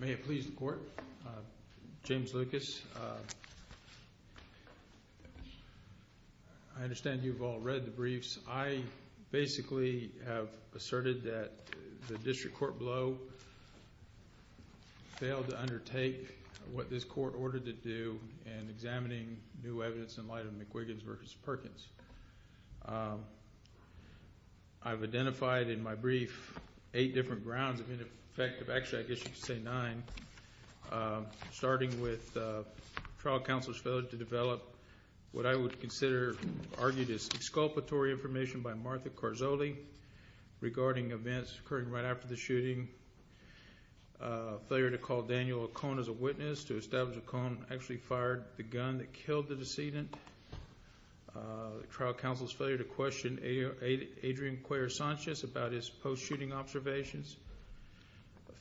May it please the Court, James Lucas. I understand you've all read the briefs. I basically have examining new evidence in light of McWiggins v. Perkins. I've identified in my brief 8 different grounds of ineffective, actually I guess you should say 9, starting with trial counsel's failure to develop what I would consider argued as exculpatory information by Martha Carzoli regarding events occurring right after the shooting. Failure to call Daniel O'Connor as a witness to establish O'Connor actually fired the gun that killed the decedent. Trial counsel's failure to question Adrian Cuellar Sanchez about his post-shooting observations.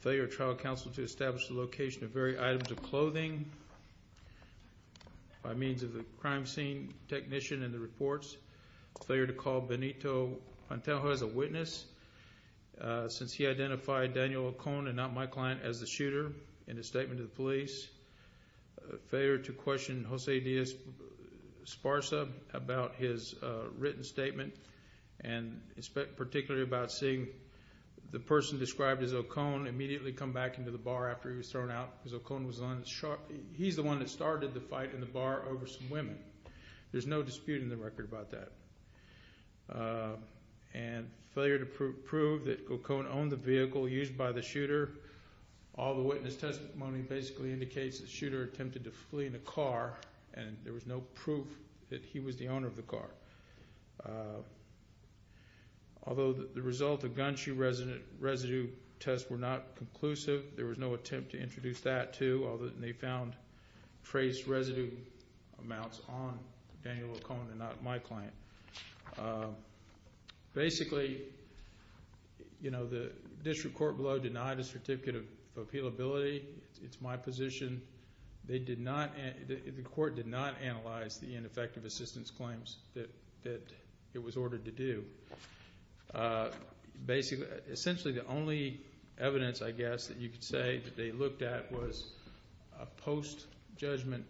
Failure of trial counsel to identify Daniel O'Connor as a witness since he identified Daniel O'Connor, not my client, as the shooter in his statement to the police. Failure to question Jose Diaz-Esparza about his written statement and particularly about seeing the person described as O'Connor immediately come back into the bar after he was shot. He's the one that started the fight in the bar over some women. There's no dispute in the record about that. And failure to prove that O'Connor owned the vehicle used by the shooter. All the witness testimony basically indicates the shooter attempted to flee in a car and there was no proof that he was the shooter. They found trace residue amounts on Daniel O'Connor, not my client. Basically, you know, the district court below denied a certificate of appealability. It's my position. They did not, the court did not analyze the ineffective assistance claims that it was ordered to do. Essentially the only evidence, I guess, that you could say that they looked at was a post-judgment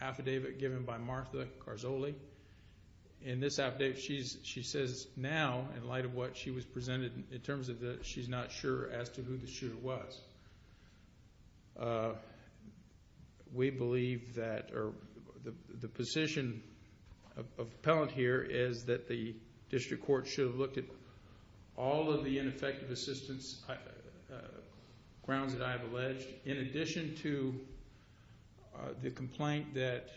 affidavit given by Martha Carzoli. In this affidavit, she says now in light of what she was presented in terms of that she's not sure as to who the shooter was. We believe that the position of appellant here is that the district court should have looked at all of the ineffective assistance grounds that I have alleged in addition to the complaint that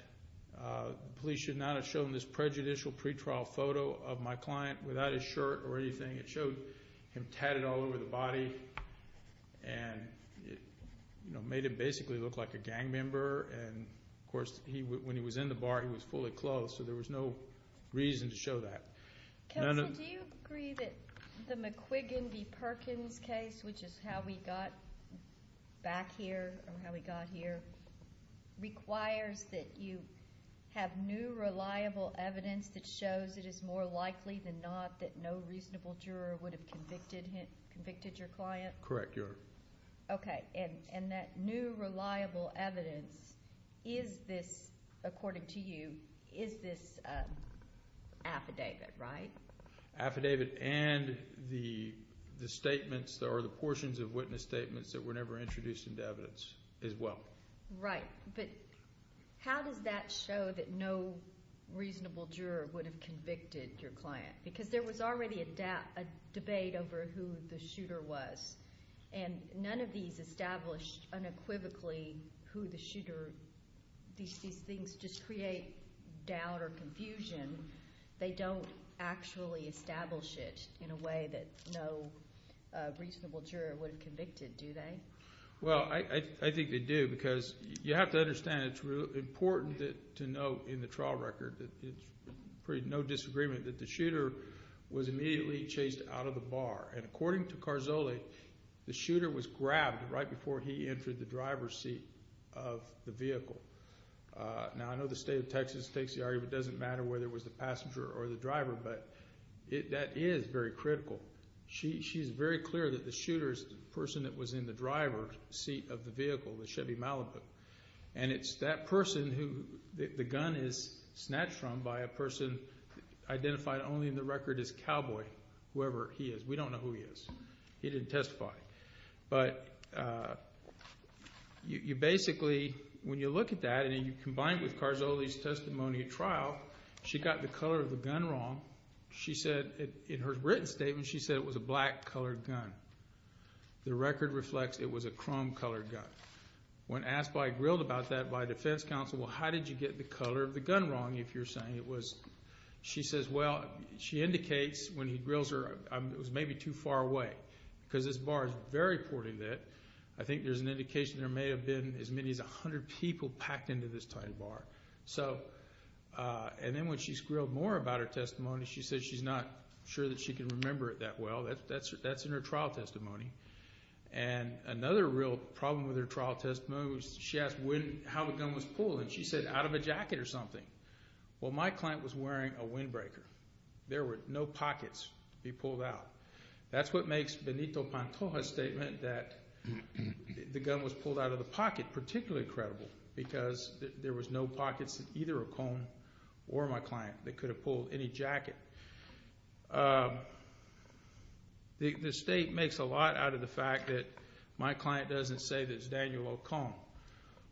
the police should not have shown this prejudicial pre-trial photo of my client without his shirt or anything. It showed him tatted all over the body and it made him basically look like a gang member and of course when he was in the bar he was fully clothed so there was no reason to show that. Counsel, do you agree that the McQuiggan v. Perkins case, which is how we got back here or how we got here, requires that you have new reliable evidence that shows it is more likely than not that no reasonable juror would have convicted your client? Correct. And that new reliable evidence, according to you, is this affidavit, right? Affidavit and the statements or the portions of witness statements that were never And none of these established unequivocally who the shooter, these things just create doubt or confusion. They don't actually establish it in a way that no reasonable juror would have convicted, do they? Well, I think they do because you have to understand it's really important to note in the trial record that there's no disagreement that the shooter was immediately chased out of the bar. And according to Carzoli, the shooter was grabbed right before he entered the driver's seat of the vehicle. Now I know the state of Texas takes the argument, it doesn't matter whether it was the passenger or the driver, but that is very critical. She's very clear that the shooter is the person that was in the driver's seat of the vehicle, the Chevy Malibu. And it's that person who the gun is snatched from by a person identified only in the record as cowboy, whoever he is. We don't know who he is. He didn't testify. But you basically, when you look at that and you combine it with Carzoli's testimony at trial, she got the color of the gun wrong. She said in her written statement, she said it was a black-colored gun. The record reflects it was a chrome-colored gun. When asked by grilled about that by defense counsel, well, how did you get the color of the gun wrong if you're saying it was, she says, well, she indicates when he grills her, it was maybe too far away. Because this bar is very poorly lit. I think there's an indication there may have been as many as 100 people packed into this tiny bar. And then when she's grilled more about her testimony, she says she's not sure that she can remember it that well. That's in her trial testimony. And another real problem with her trial testimony was she asked how the gun was pulled, and she said out of a jacket or something. Well, my client was wearing a windbreaker. There were no pockets to be pulled out. That's what makes Benito Pantoja's statement that the gun was pulled out of the pocket particularly credible because there was no pockets in either Ocone or my client that could have pulled any jacket. The state makes a lot out of the fact that my client doesn't say that it's Daniel Ocone.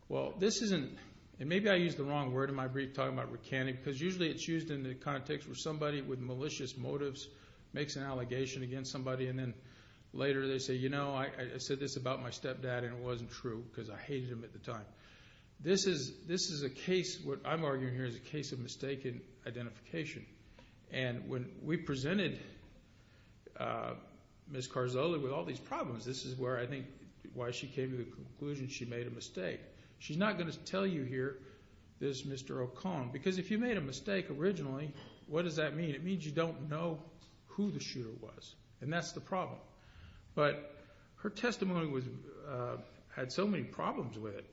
Well, this isn't – and maybe I used the wrong word in my brief talking about recanting because usually it's used in the context where somebody with malicious motives makes an allegation against somebody. And then later they say, you know, I said this about my stepdad and it wasn't true because I hated him at the time. This is a case – what I'm arguing here is a case of mistaken identification. And when we presented Ms. Carzula with all these problems, this is where I think why she came to the conclusion she made a mistake. She's not going to tell you here this Mr. Ocone because if you made a mistake originally, what does that mean? It means you don't know who the shooter was, and that's the problem. But her testimony had so many problems with it,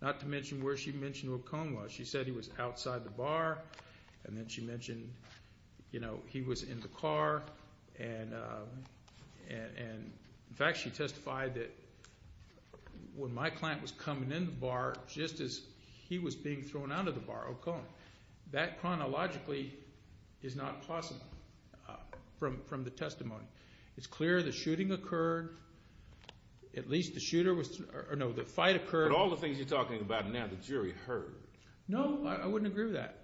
not to mention where she mentioned Ocone was. She said he was outside the bar, and then she mentioned, you know, he was in the car. And, in fact, she testified that when my client was coming in the bar, just as he was being thrown out of the bar, Ocone. That chronologically is not possible from the testimony. It's clear the shooting occurred. At least the shooter was – or no, the fight occurred. I've heard all the things you're talking about, and now the jury heard. No, I wouldn't agree with that.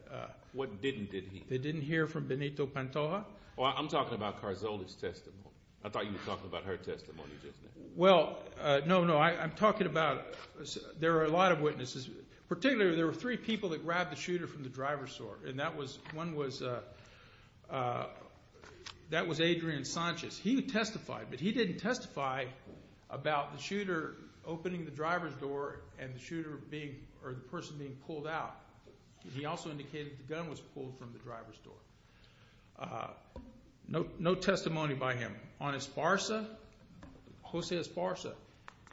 What didn't, did he? They didn't hear from Benito Pantoja. Well, I'm talking about Carzula's testimony. I thought you were talking about her testimony just now. Well, no, no, I'm talking about – there are a lot of witnesses. Particularly there were three people that grabbed the shooter from the driver's door, and that was – one was – that was Adrian Sanchez. He testified, but he didn't testify about the shooter opening the driver's door and the shooter being – or the person being pulled out. He also indicated the gun was pulled from the driver's door. No testimony by him. On Esparza, Jose Esparza,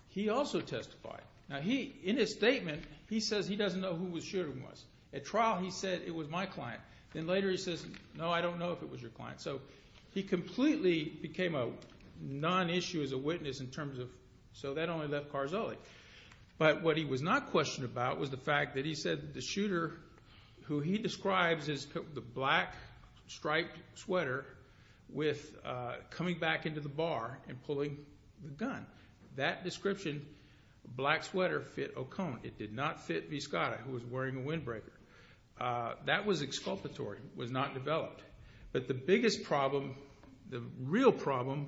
he also testified. Now he, in his statement, he says he doesn't know who the shooter was. At trial he said it was my client. Then later he says, no, I don't know if it was your client. So he completely became a non-issue as a witness in terms of – so that only left Carzula. But what he was not questioned about was the fact that he said the shooter, who he describes as the black striped sweater with coming back into the bar and pulling the gun. That description, black sweater, fit Ocone. It did not fit Viscata, who was wearing a windbreaker. That was exculpatory. It was not developed. But the biggest problem, the real problem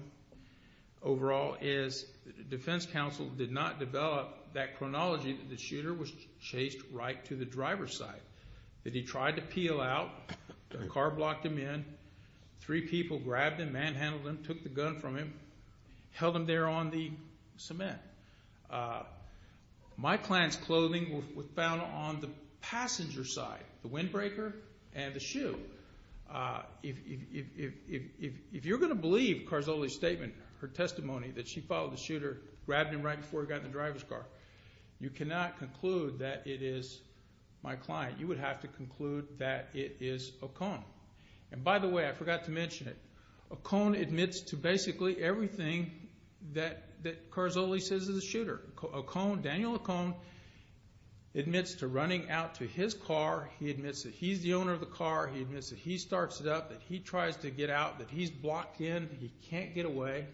overall is the defense counsel did not develop that chronology that the shooter was chased right to the driver's side. That he tried to peel out. The car blocked him in. Three people grabbed him, manhandled him, took the gun from him, held him there on the cement. My client's clothing was found on the passenger side, the windbreaker and the shoe. If you're going to believe Carzula's statement, her testimony that she followed the shooter, grabbed him right before he got in the driver's car, you cannot conclude that it is my client. You would have to conclude that it is Ocone. And by the way, I forgot to mention it. Ocone admits to basically everything that Carzula says is the shooter. Ocone, Daniel Ocone, admits to running out to his car. He admits that he's the owner of the car. He admits that he starts it up, that he tries to get out, that he's blocked in, he can't get away.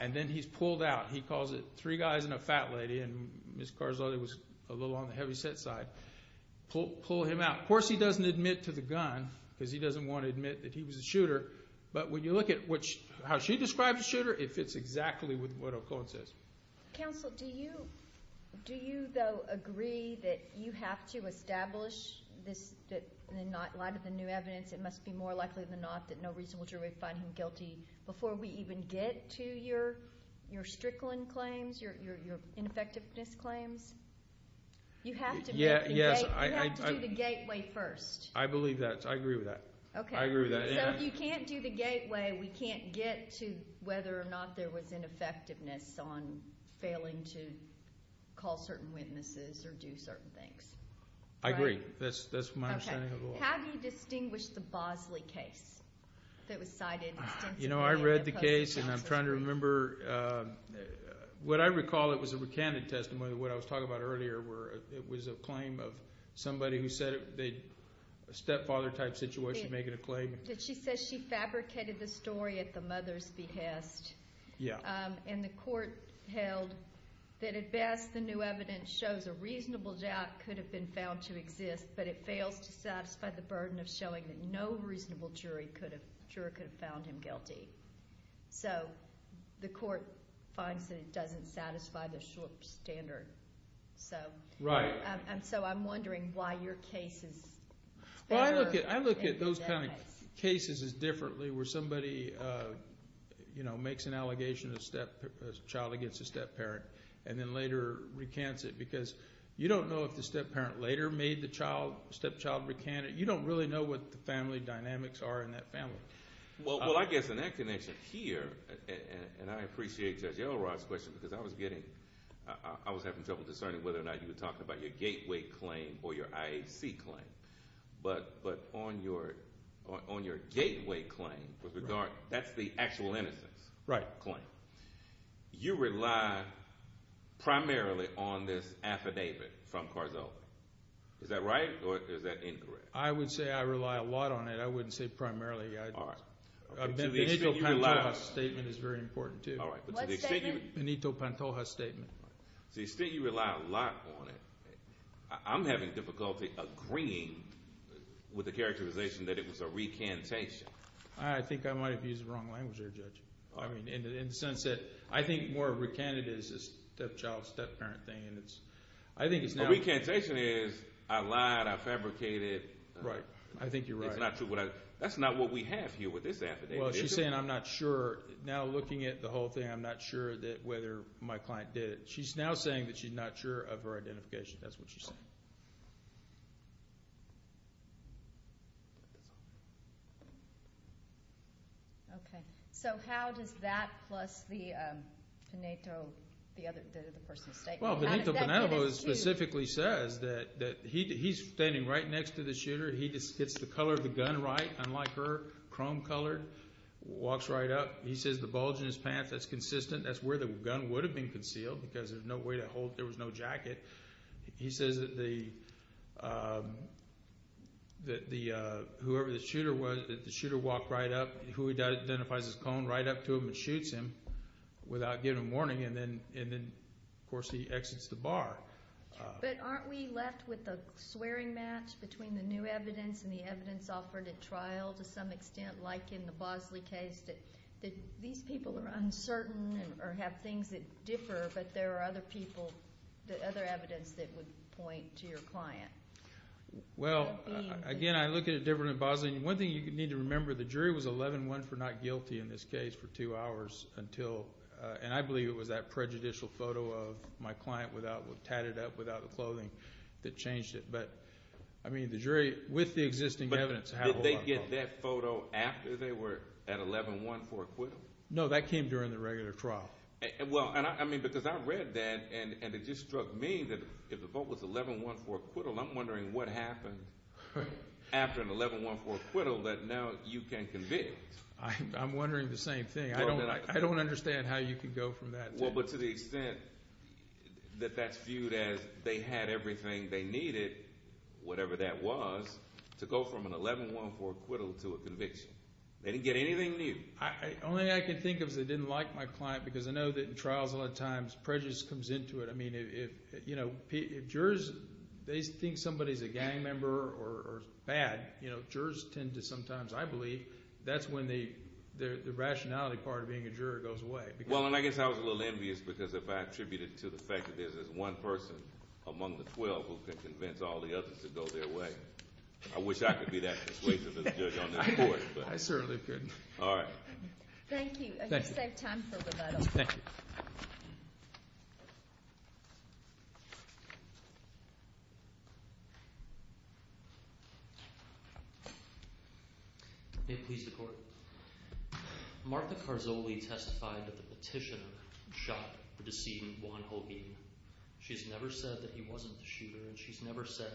And then he's pulled out. He calls it three guys and a fat lady. And Ms. Carzula was a little on the heavy set side. Pull him out. Now, of course he doesn't admit to the gun because he doesn't want to admit that he was the shooter. But when you look at how she describes the shooter, it fits exactly with what Ocone says. Counsel, do you, though, agree that you have to establish this in light of the new evidence? It must be more likely than not that no reasonable jury would find him guilty before we even get to your Strickland claims, your ineffectiveness claims. You have to do the gateway first. I believe that. I agree with that. Okay. I agree with that. So if you can't do the gateway, we can't get to whether or not there was ineffectiveness on failing to call certain witnesses or do certain things. I agree. That's my understanding of the law. Okay. How do you distinguish the Bosley case that was cited? You know, I read the case and I'm trying to remember. What I recall, it was a recanted testimony. What I was talking about earlier where it was a claim of somebody who said a stepfather type situation making a claim. She says she fabricated the story at the mother's behest. Yeah. And the court held that at best the new evidence shows a reasonable doubt could have been found to exist, but it fails to satisfy the burden of showing that no reasonable jury could have found him guilty. So the court finds that it doesn't satisfy the standard. Right. So I'm wondering why your case is better than that case. You know, where somebody makes an allegation of a child against a stepparent and then later recants it because you don't know if the stepparent later made the stepchild recant it. You don't really know what the family dynamics are in that family. Well, I guess in that connection here, and I appreciate Judge Elrod's question because I was getting – I was having trouble discerning whether or not you were talking about your gateway claim or your IAC claim. But on your gateway claim, that's the actual innocence claim. Right. You rely primarily on this affidavit from Carzola. Is that right or is that incorrect? I would say I rely a lot on it. I wouldn't say primarily. All right. Benito Pantoja's statement is very important too. All right. What statement? Benito Pantoja's statement. So you say you rely a lot on it. I'm having difficulty agreeing with the characterization that it was a recantation. I think I might have used the wrong language there, Judge, in the sense that I think more recanted is a stepchild, stepparent thing. A recantation is I lied, I fabricated. Right. I think you're right. It's not true. That's not what we have here with this affidavit. Well, she's saying I'm not sure. Now looking at the whole thing, I'm not sure whether my client did it. She's now saying that she's not sure of her identification. That's what she's saying. Okay. So how does that plus the Pantoja, the other person's statement? Well, Benito Pantoja specifically says that he's standing right next to the shooter. He gets the color of the gun right, unlike her, chrome colored, walks right up. He says the bulge in his pants, that's consistent. That's where the gun would have been concealed because there's no way to hold it. There was no jacket. He says that whoever the shooter was, that the shooter walked right up. He identifies his clone right up to him and shoots him without giving a warning. And then, of course, he exits the bar. But aren't we left with a swearing match between the new evidence and the evidence offered at trial to some extent, like in the Bosley case, that these people are uncertain or have things that differ, but there are other people, other evidence that would point to your client? Well, again, I look at it differently in Bosley. And one thing you need to remember, the jury was 11-1 for not guilty in this case for two hours until, and I believe it was that prejudicial photo of my client tatted up without the clothing that changed it. But, I mean, the jury, with the existing evidence, had a lot of fun. Did they get that photo after they were at 11-1 for acquittal? No, that came during the regular trial. Well, I mean, because I read that, and it just struck me that if the vote was 11-1 for acquittal, I'm wondering what happened after an 11-1 for acquittal that now you can convict. I'm wondering the same thing. I don't understand how you could go from that. Well, but to the extent that that's viewed as they had everything they needed, whatever that was, to go from an 11-1 for acquittal to a conviction. They didn't get anything new. The only thing I can think of is they didn't like my client because I know that in trials a lot of times prejudice comes into it. I mean, if jurors, they think somebody's a gang member or bad, jurors tend to sometimes, I believe, that's when the rationality part of being a juror goes away. Well, and I guess I was a little envious because if I attributed it to the fact that there's this one person among the 12 who can convince all the others to go their way, I wish I could be that persuasive as a judge on this court. I certainly couldn't. All right. Thank you. I guess I have time for rebuttal. Thank you. May it please the Court. Martha Carzoli testified that the petitioner shot the decedent, Juan Holguin. She's never said that he wasn't the shooter, and she's never said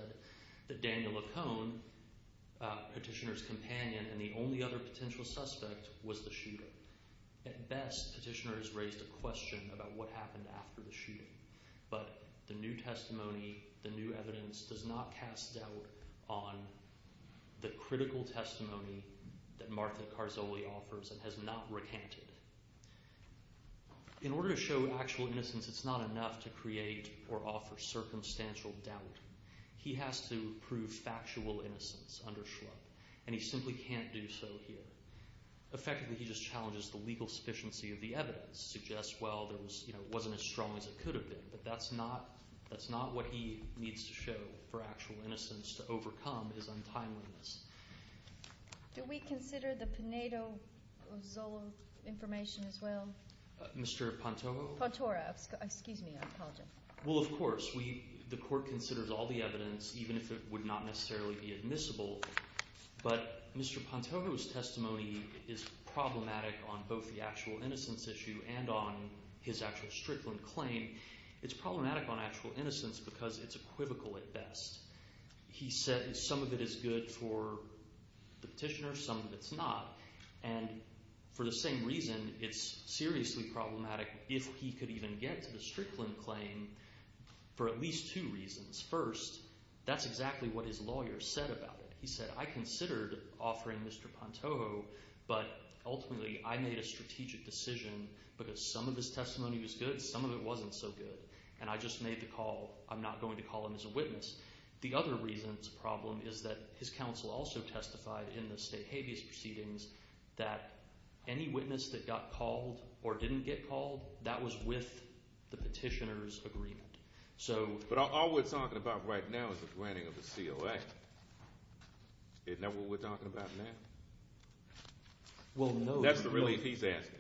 that Daniel Lacone, petitioner's companion and the only other potential suspect, was the shooter. At best, petitioner has raised a question about what happened after the shooting, but the new testimony, the new evidence does not cast doubt on the critical testimony that Martha Carzoli offers and has not recanted. In order to show actual innocence, it's not enough to create or offer circumstantial doubt. He has to prove factual innocence under Schlupp, and he simply can't do so here. Effectively, he just challenges the legal sufficiency of the evidence, suggests, well, it wasn't as strong as it could have been, but that's not what he needs to show for actual innocence to overcome is untimeliness. Do we consider the Pinedo-Ozolo information as well? Mr. Pantojo? Pantoro. Excuse me. I apologize. Well, of course. The Court considers all the evidence, even if it would not necessarily be admissible, but Mr. Pantojo's testimony is problematic on both the actual innocence issue and on his actual Strickland claim. It's problematic on actual innocence because it's equivocal at best. He said some of it is good for the petitioner, some of it's not, and for the same reason, it's seriously problematic if he could even get to the Strickland claim for at least two reasons. First, that's exactly what his lawyer said about it. He said, I considered offering Mr. Pantojo, but ultimately I made a strategic decision because some of his testimony was good, some of it wasn't so good, and I just made the call. I'm not going to call him as a witness. The other reason it's a problem is that his counsel also testified in the state habeas proceedings that any witness that got called or didn't get called, that was with the petitioner's agreement. But all we're talking about right now is the granting of the COA. Isn't that what we're talking about now? Well, no. That's the relief he's asking.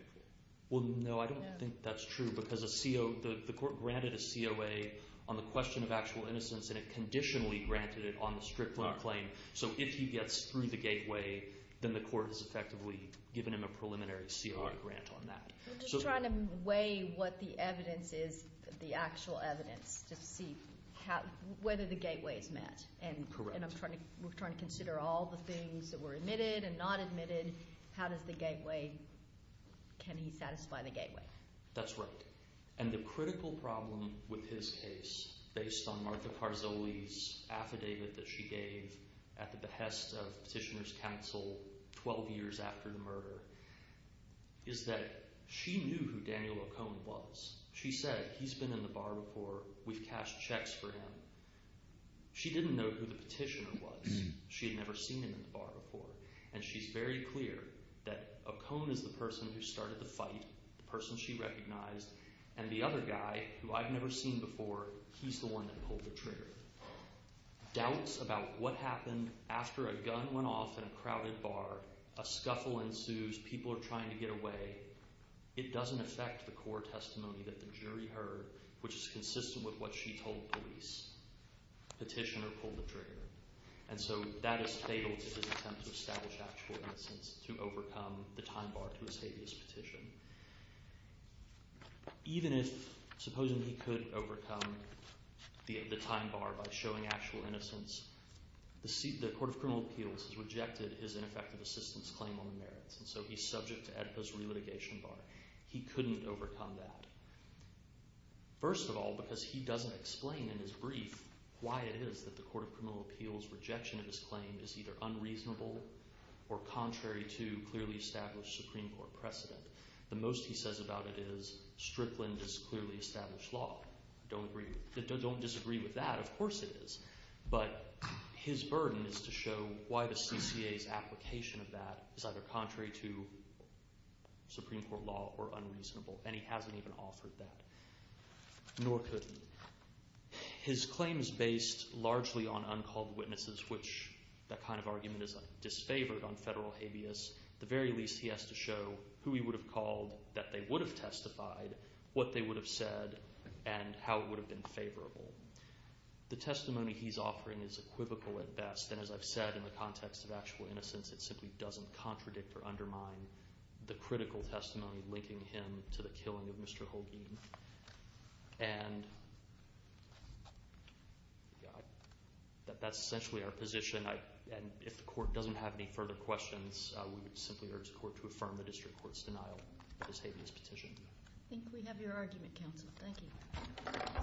Well, no, I don't think that's true because the court granted a COA on the question of actual innocence, and it conditionally granted it on the Strickland claim. So if he gets through the gateway, then the court has effectively given him a preliminary COA grant on that. I'm just trying to weigh what the evidence is, the actual evidence, to see whether the gateway is met. Correct. And we're trying to consider all the things that were admitted and not admitted. How does the gateway—can he satisfy the gateway? That's right. And the critical problem with his case, based on Martha Carzoli's affidavit that she gave at the behest of petitioner's counsel 12 years after the murder, is that she knew who Daniel O'Cone was. She said, he's been in the bar before. We've cashed checks for him. She didn't know who the petitioner was. She had never seen him in the bar before, and she's very clear that O'Cone is the person who started the fight, the person she recognized, and the other guy, who I've never seen before, he's the one that pulled the trigger. Doubts about what happened after a gun went off in a crowded bar, a scuffle ensues, people are trying to get away, it doesn't affect the core testimony that the jury heard, which is consistent with what she told police. Petitioner pulled the trigger. And so that is fatal to his attempt to establish actual innocence, to overcome the time bar to his habeas petition. Even if, supposing he could overcome the time bar by showing actual innocence, the Court of Criminal Appeals has rejected his ineffective assistance claim on the merits, and so he's subject to EDPA's re-litigation bar. He couldn't overcome that. First of all, because he doesn't explain in his brief why it is that the Court of Criminal Appeals' rejection of his claim is either unreasonable or contrary to clearly established Supreme Court precedent. The most he says about it is, Strickland is clearly established law. Don't disagree with that, of course it is. But his burden is to show why the CCA's application of that is either contrary to Supreme Court law or unreasonable, and he hasn't even offered that, nor could he. His claim is based largely on uncalled witnesses, which that kind of argument is disfavored on federal habeas. At the very least, he has to show who he would have called, that they would have testified, what they would have said, and how it would have been favorable. The testimony he's offering is equivocal at best, and as I've said, in the context of actual innocence, it simply doesn't contradict or undermine the critical testimony linking him to the killing of Mr. Holguin. And that's essentially our position, and if the Court doesn't have any further questions, we would simply urge the Court to affirm the district court's denial of his habeas petition. I think we have your argument, counsel. Thank you. Thank you.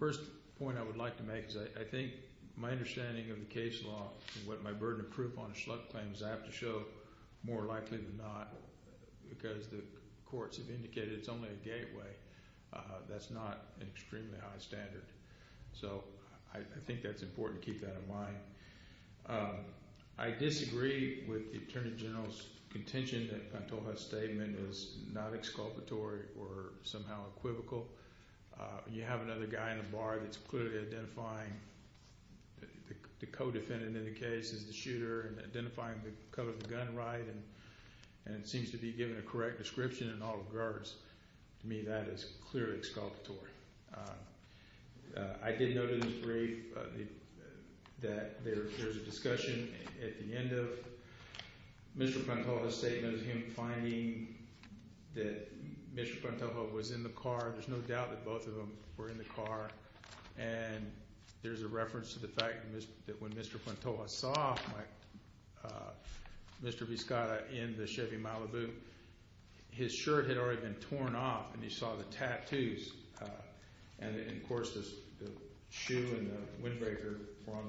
The first point I would like to make is I think my understanding of the case law and what my burden of proof on a schluck claim is I have to show more likely than not, because the courts have indicated it's only a gateway. That's not an extremely high standard. So I think that's important to keep that in mind. I disagree with the Attorney General's contention that Pantoja's statement is not exculpatory or somehow equivocal. You have another guy in the bar that's clearly identifying the co-defendant in the case as the shooter and identifying the color of the gun right and seems to be giving a correct description in all regards. To me, that is clearly exculpatory. I did note in this brief that there's a discussion at the end of Mr. Pantoja's statement of him finding that Mr. Pantoja was in the car. There's no doubt that both of them were in the car, and there's a reference to the fact that when Mr. Pantoja saw Mr. Biscotta in the Chevy Malibu, his shirt had already been torn off and he saw the tattoos, and, of course, the shoe and the windbreaker were on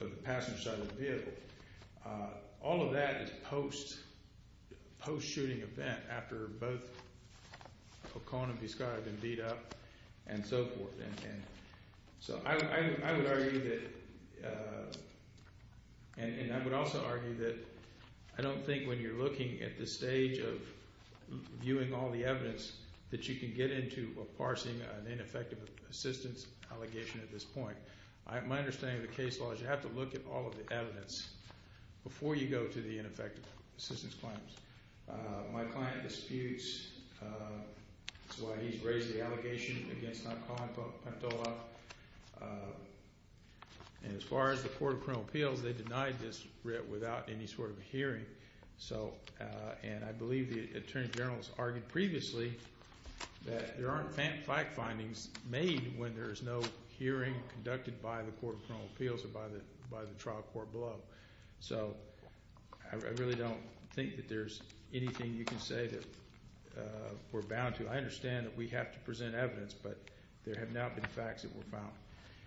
the passenger side of the vehicle. All of that is post-shooting event after both O'Connor and Biscotta had been beat up and so forth. So I would argue that, and I would also argue that I don't think when you're looking at the stage of viewing all the evidence that you can get into a parsing, an ineffective assistance allegation at this point. My understanding of the case law is you have to look at all of the evidence before you go to the ineffective assistance claims. My client disputes why he's raised the allegation against not calling for Pantoja. And as far as the Court of Criminal Appeals, they denied this without any sort of hearing. And I believe the Attorney General has argued previously that there aren't fact findings made when there is no hearing conducted by the Court of Criminal Appeals or by the trial court below. So I really don't think that there's anything you can say that we're bound to. I understand that we have to present evidence, but there have not been facts that were found.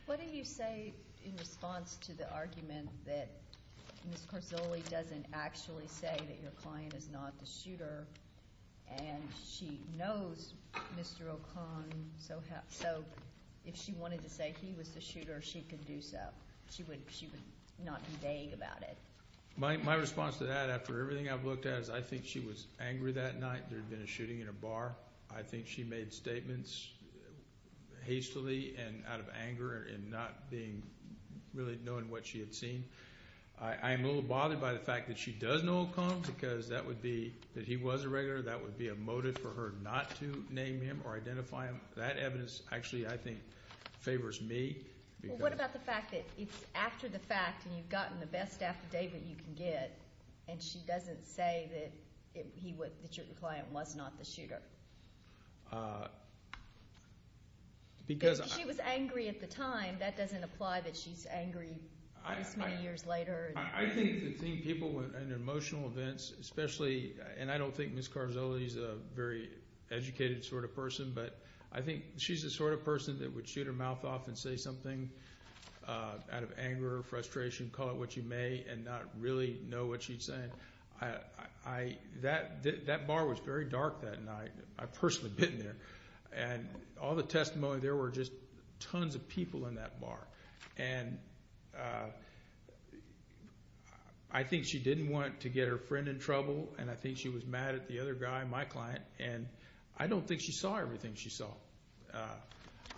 What do you say in response to the argument that Ms. Carzulli doesn't actually say that your client is not the shooter and she knows Mr. O'Connor, so if she wanted to say he was the shooter, she could do so. She would not be vague about it. My response to that, after everything I've looked at, is I think she was angry that night there had been a shooting in a bar. I think she made statements hastily and out of anger and not really knowing what she had seen. I am a little bothered by the fact that she does know O'Connor because that would be that he was a regular. That would be a motive for her not to name him or identify him. That evidence actually, I think, favors me. Well, what about the fact that it's after the fact and you've gotten the best affidavit you can get, and she doesn't say that your client was not the shooter? Because she was angry at the time. That doesn't apply that she's angry this many years later. I think that seeing people in emotional events, especially, and I don't think Ms. Carzulli is a very educated sort of person, but I think she's the sort of person that would shoot her mouth off and say something out of anger or frustration, call it what you may, and not really know what she's saying. That bar was very dark that night. I personally have been there. And all the testimony, there were just tons of people in that bar. And I think she didn't want to get her friend in trouble, and I think she was mad at the other guy, my client. And I don't think she saw everything she saw.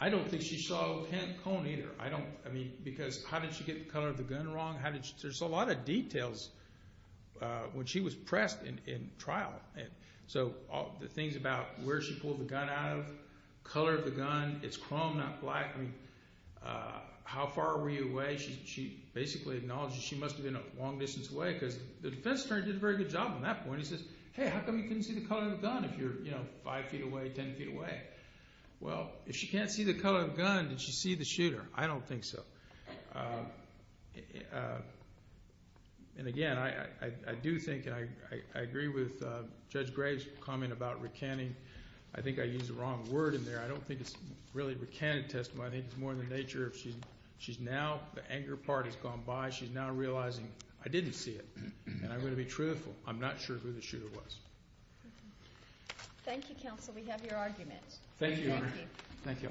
I don't think she saw O'Connor either. I mean, because how did she get the color of the gun wrong? There's a lot of details when she was pressed in trial. So the things about where she pulled the gun out of, color of the gun, it's chrome, not black. How far were you away? She basically acknowledged that she must have been a long distance away because the defense attorney did a very good job on that point. He says, hey, how come you couldn't see the color of the gun if you're five feet away, ten feet away? Well, if she can't see the color of the gun, did she see the shooter? I don't think so. And again, I do think, and I agree with Judge Graves' comment about recanting. I think I used the wrong word in there. I don't think it's really a recanted testimony. I think it's more in the nature of she's now, the anger part has gone by. She's now realizing I didn't see it, and I'm going to be truthful. I'm not sure who the shooter was. Thank you, counsel. We have your argument. Thank you, Your Honor. Thank you.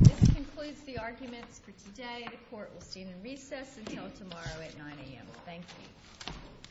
This concludes the arguments for today. The court will stand in recess until tomorrow at 9 a.m. Thank you.